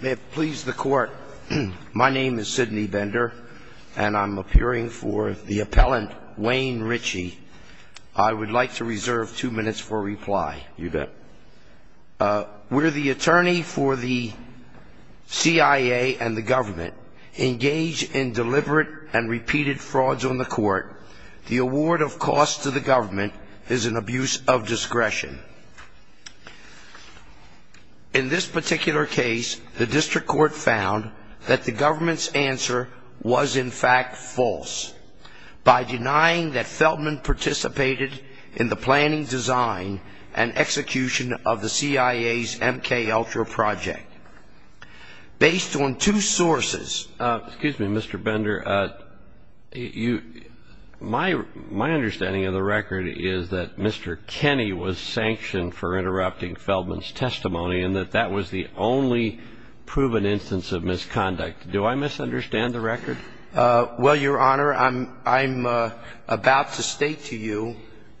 May it please the court, my name is Sidney Bender and I'm appearing for the appellant Wayne Ritchie. I would like to reserve two minutes for reply. You bet. Where the attorney for the CIA and the government engage in deliberate and repeated frauds on the court, the award of costs to the government is an abuse of discretion. In this particular case the district court found that the government's answer was in fact false by denying that Feldman participated in the planning design and execution of the CIA's MKUltra project. Based on two sources, excuse me Mr. Bender, you my my understanding of the record is that Mr. Kenny was sanctioned for interrupting Feldman's testimony and that that was the only proven instance of misconduct. Do I misunderstand the record? Well your honor I'm I'm about to state to you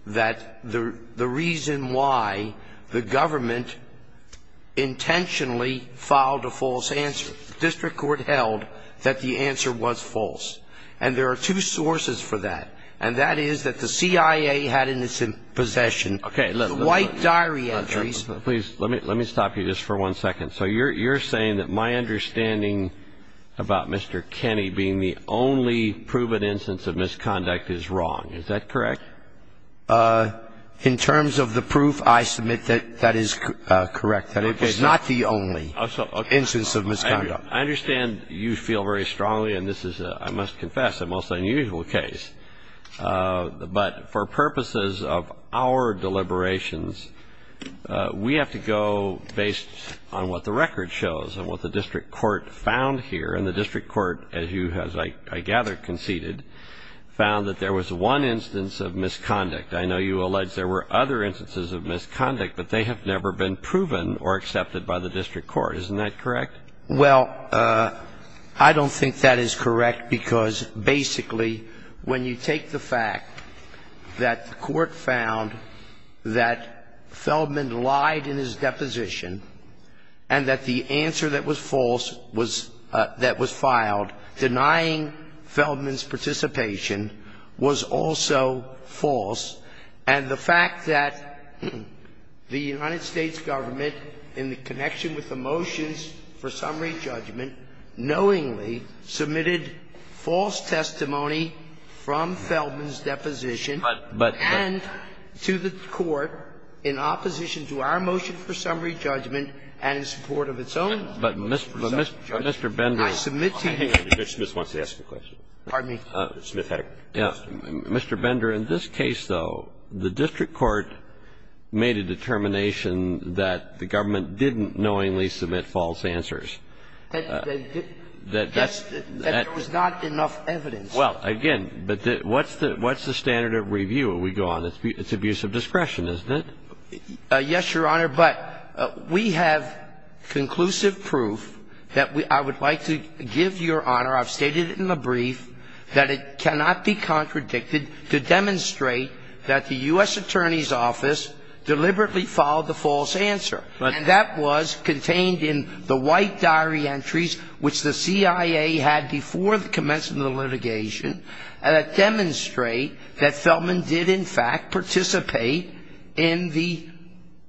that the the reason why the government intentionally filed a false answer. The district court held that the answer was false and there are two sources for that and that is that the CIA had in its possession the White Diary entries. Please let me let me stop you just for one second. So you're you're saying that my understanding about Mr. Kenny being the only proven instance of misconduct is wrong. Is that correct? In terms of the proof I submit that that is correct. That it is not the only instance of misconduct. I understand you feel very strongly and this is I must confess a most unusual case but for purposes of our deliberations we have to go based on what the record shows and what the district court found here and the district court as you has I gather conceded found that there was one instance of misconduct. I know you alleged there were other instances of misconduct but they have never been proven or accepted by the district court. Isn't that correct? Well, I don't think that is correct because basically when you take the fact that the court found that Feldman lied in his deposition and that the answer that was false was that was filed denying Feldman's participation was also false and the fact that the United States government in the connection with the motions for summary judgment knowingly submitted false testimony from Feldman's deposition and to the court in opposition to our motion for summary judgment and in support of its own motion for summary judgment. I submit to you that the district court found that there was no misconduct. Mr. Bender, in this case, though, the district court made a determination that the government didn't knowingly submit false answers. That there was not enough evidence. Well, again, but what's the standard of review that we go on? It's abuse of discretion, isn't it? Yes, Your Honor, but we have conclusive proof that I would like to give Your Honor. I've stated in the brief that it cannot be contradicted to demonstrate that the U.S. government did not submit a false answer and that was contained in the white diary entries which the CIA had before the commencement of the litigation that demonstrate that Feldman did, in fact, participate in the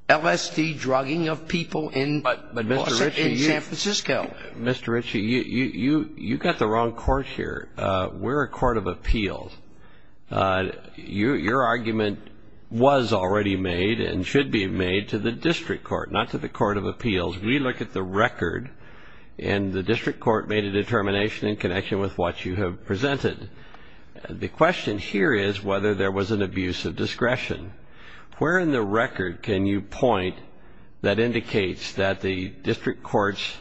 LSD drugging of people in San Francisco. Mr. Ritchie, you got the wrong course here. We're a court of appeals. Your argument was already made and should be made to the district court, not to the court of appeals. We look at the record and the district court made a determination in connection with what you have presented. The question here is whether there was an abuse of discretion. Where in the record can you point that indicates that the district court's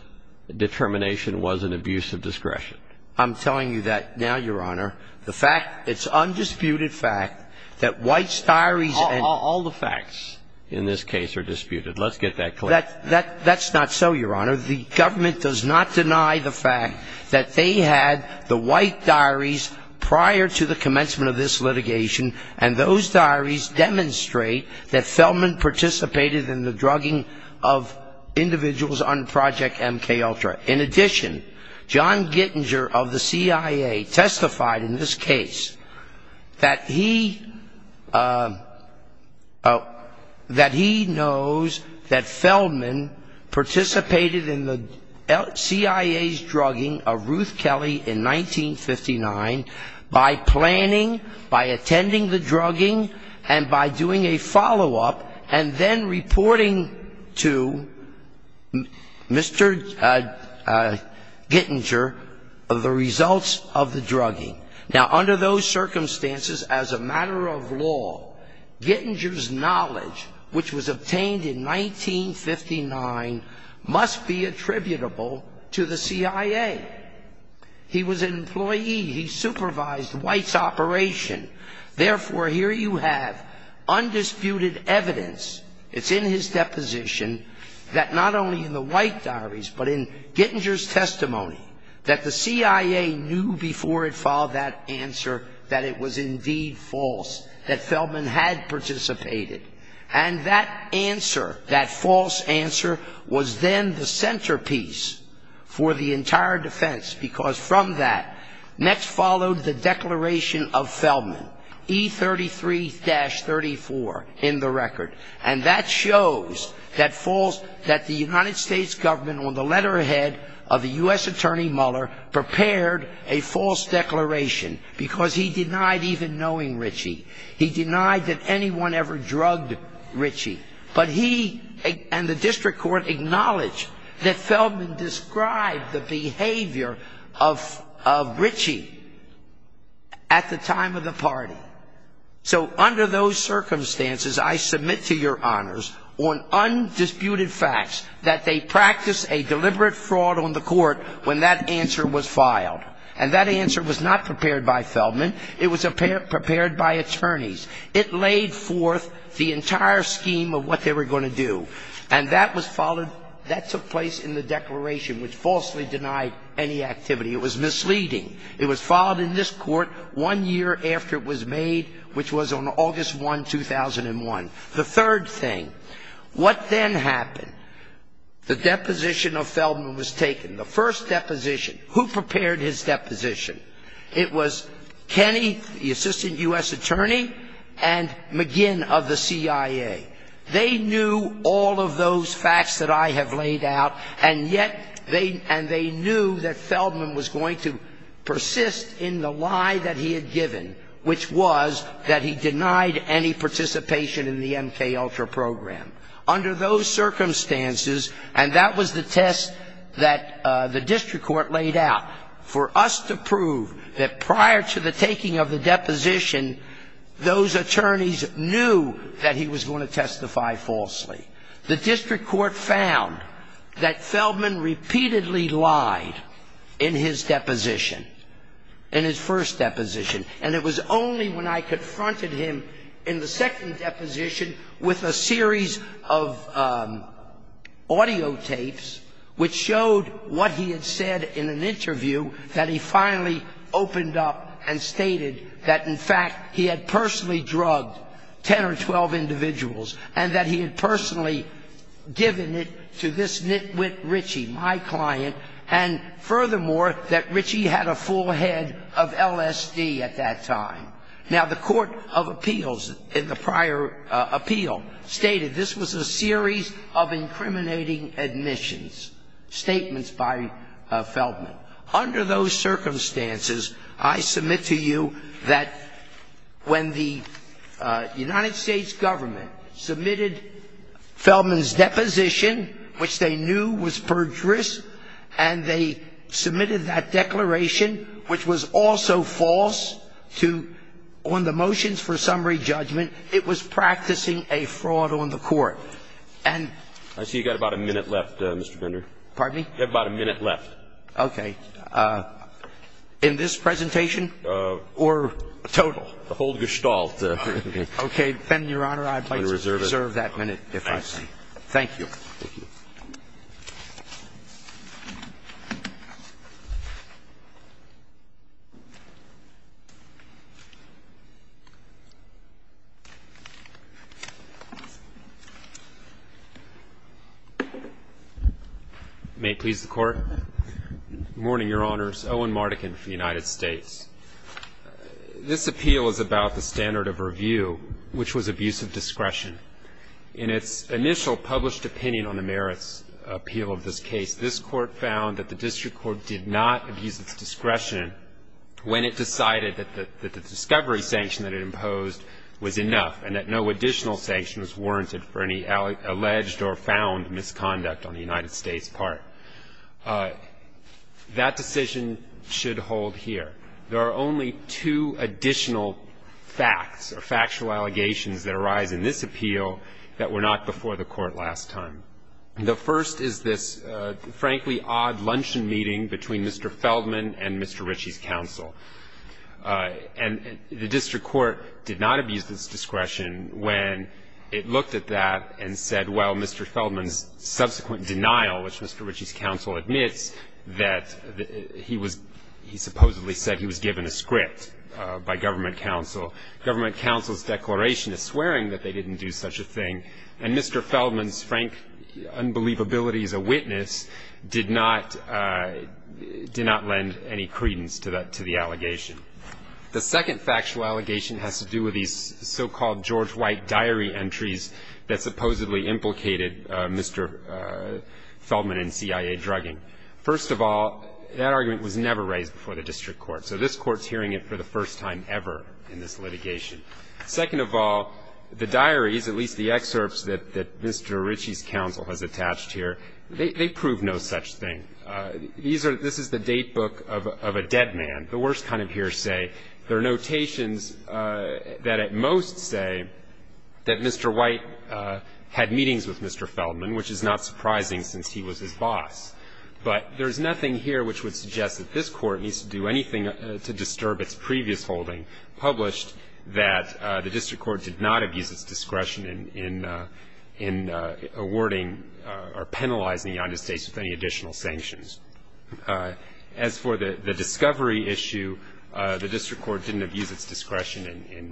determination was an abuse of discretion? I'm telling you that now, Your Honor. The fact, it's undisputed fact that White's diaries and All the facts in this case are disputed. Let's get that clear. That's not so, Your Honor. The government does not deny the fact that they had the white diaries prior to the commencement of this litigation and those diaries demonstrate that Feldman participated in the drugging of individuals on Project MKUltra. In addition, John Gittinger of the CIA testified in this case that he knows that Feldman participated in the CIA's drugging of Ruth Kelly in 1959 by planning, by attending the Gittinger, the results of the drugging. Now, under those circumstances, as a matter of law, Gittinger's knowledge, which was obtained in 1959, must be attributable to the CIA. He was an employee. He supervised White's operation. Therefore, here you have undisputed evidence, it's in his deposition, that not only in the White diaries, but in Gittinger's testimony, that the CIA knew before it filed that answer that it was indeed false, that Feldman had participated. And that answer, that false answer, was then the centerpiece for the entire defense, because from that next followed the declaration of Feldman, E33-34, in the record. And that shows that the United States government, on the letter ahead of the U.S. attorney Mueller, prepared a false declaration, because he denied even knowing Ritchie. He denied that anyone ever drugged Ritchie. But he and the district court that Feldman described the behavior of Ritchie at the time of the party. So under those circumstances, I submit to your honors on undisputed facts that they practiced a deliberate fraud on the court when that answer was filed. And that answer was not prepared by Feldman. It was prepared by attorneys. It laid forth the entire scheme of what they were going to do. And that was followed, that took place in the declaration, which falsely denied any activity. It was misleading. It was filed in this court one year after it was made, which was on August 1, 2001. The third thing. What then happened? The deposition of Feldman was taken. The first deposition. Who prepared his deposition? It was Kenny, the assistant U.S. attorney, and McGinn of the CIA. They knew all of those facts that I have laid out, and yet they and they knew that Feldman was going to persist in the lie that he had given, which was that he denied any participation in the MKUltra program. Under those circumstances, and that was the test that the district court laid out, for us to prove that prior to the taking of the lawsuit that he was going to testify falsely. The district court found that Feldman repeatedly lied in his deposition, in his first deposition. And it was only when I confronted him in the second deposition with a series of audiotapes which showed what he had said in an interview that he finally opened up and stated that, in fact, he had personally drugged 10 or 12 individuals, and that he had personally given it to this nitwit Richie, my client, and furthermore, that Richie had a full head of LSD at that time. Now, the court of appeals in the prior appeal stated this was a series of incriminating admissions, statements by Feldman. Under those circumstances, I submit to you that when the United States government submitted Feldman's deposition, which they knew was perjurous, and they submitted that declaration, which was also false, to, on the motions for summary judgment, it was practicing a fraud on the court. And I see you've got about a minute left, Mr. Bender. Pardon me? You've got about a minute left. Okay. In this presentation or total? The whole gestalt. Okay. Then, Your Honor, I'd like to reserve that minute, if I may. I see. Thank you. Thank you. May it please the Court? Good morning, Your Honors. Owen Mardekin for the United States. This appeal is about the standard of review, which was abuse of discretion. In its initial published opinion on the merits appeal of this case, this Court found that the district court did not abuse its discretion when it decided that the discovery sanction that it imposed was enough and that no additional sanction was warranted for any alleged or found misconduct on the United States' part. That decision should hold here. There are only two additional facts or factual allegations that arise in this appeal that were not before the Court last time. The first is this, frankly, odd luncheon meeting between Mr. Feldman and Mr. Ritchie's counsel. And the district court did not abuse its discretion when it looked at that and said, well, Mr. Feldman's subsequent denial, which Mr. Ritchie's counsel admits that he was supposedly said he was given a script by government counsel. Government counsel's declaration is swearing that they didn't do such a thing. And Mr. Feldman's frank unbelievability as a witness did not lend any credence to that allegation. The second factual allegation has to do with these so-called George White diary entries that supposedly implicated Mr. Feldman and CIA drugging. First of all, that argument was never raised before the district court. So this Court's hearing it for the first time ever in this litigation. Second of all, the diaries, at least the excerpts that Mr. Ritchie's counsel has attached here, they prove no such thing. This is the date book of a dead man, the worst kind of hearsay. There are notations that at most say that Mr. White had meetings with Mr. Feldman, which is not surprising since he was his boss. But there is nothing here which would suggest that this Court needs to do anything to disturb its previous holding published that the district court did not abuse its discretion in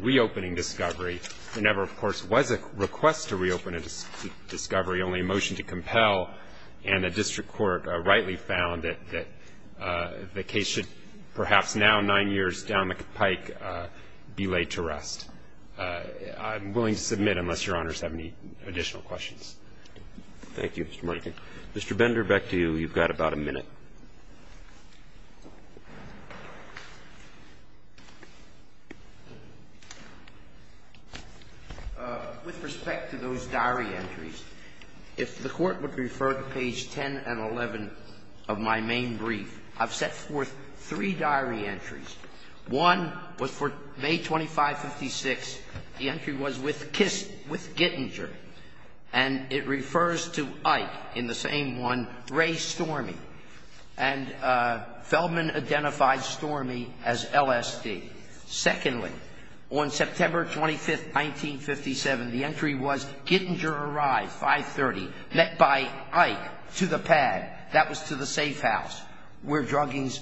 reopening discovery whenever, of course, it was a request to reopen a discovery, only a motion to compel. And the district court rightly found that the case should perhaps now, nine years down the pike, be laid to rest. I'm willing to submit unless Your Honors have any additional questions. Thank you, Mr. Monaghan. Mr. Bender, back to you. You've got about a minute. With respect to those diary entries, if the Court would refer to page 10 and 11 of my main brief, I've set forth three diary entries. One was for May 25, 1956. The entry was with Kiss, with Gittinger. And it refers to Ike in the same one, Ray Stormy. And Feldman identified Stormy as LSD. Secondly, on September 25, 1957, the entry was Gittinger arrived, 530, met by Ike to the pad. That was to the safe house where druggings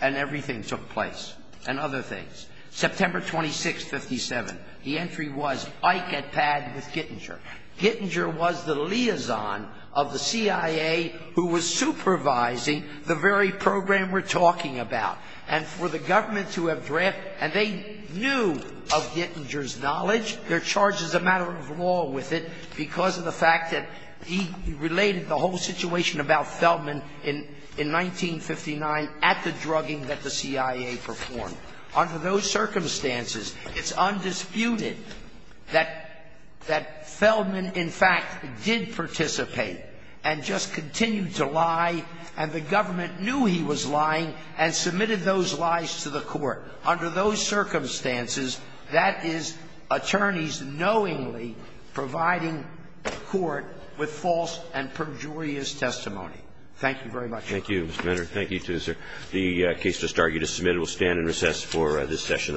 and everything took place and other things. September 26, 1957, the entry was Ike at pad with Gittinger. Gittinger was the liaison of the CIA who was supervising the very program we're talking about. And for the government to have drafted, and they knew of Gittinger's knowledge. They're charged as a matter of law with it because of the fact that he related the whole situation about Feldman in 1959 at the drugging that the CIA performed. Under those circumstances, it's undisputed that Feldman, in fact, did participate and just continued to lie, and the government knew he was lying and submitted those lies to the court. Under those circumstances, that is attorneys knowingly providing the court with false and perjurious testimony. Thank you very much. Thank you, Mr. Mentor. Thank you, too, sir. The case just argued is submitted. We'll stand and recess for this session of the court.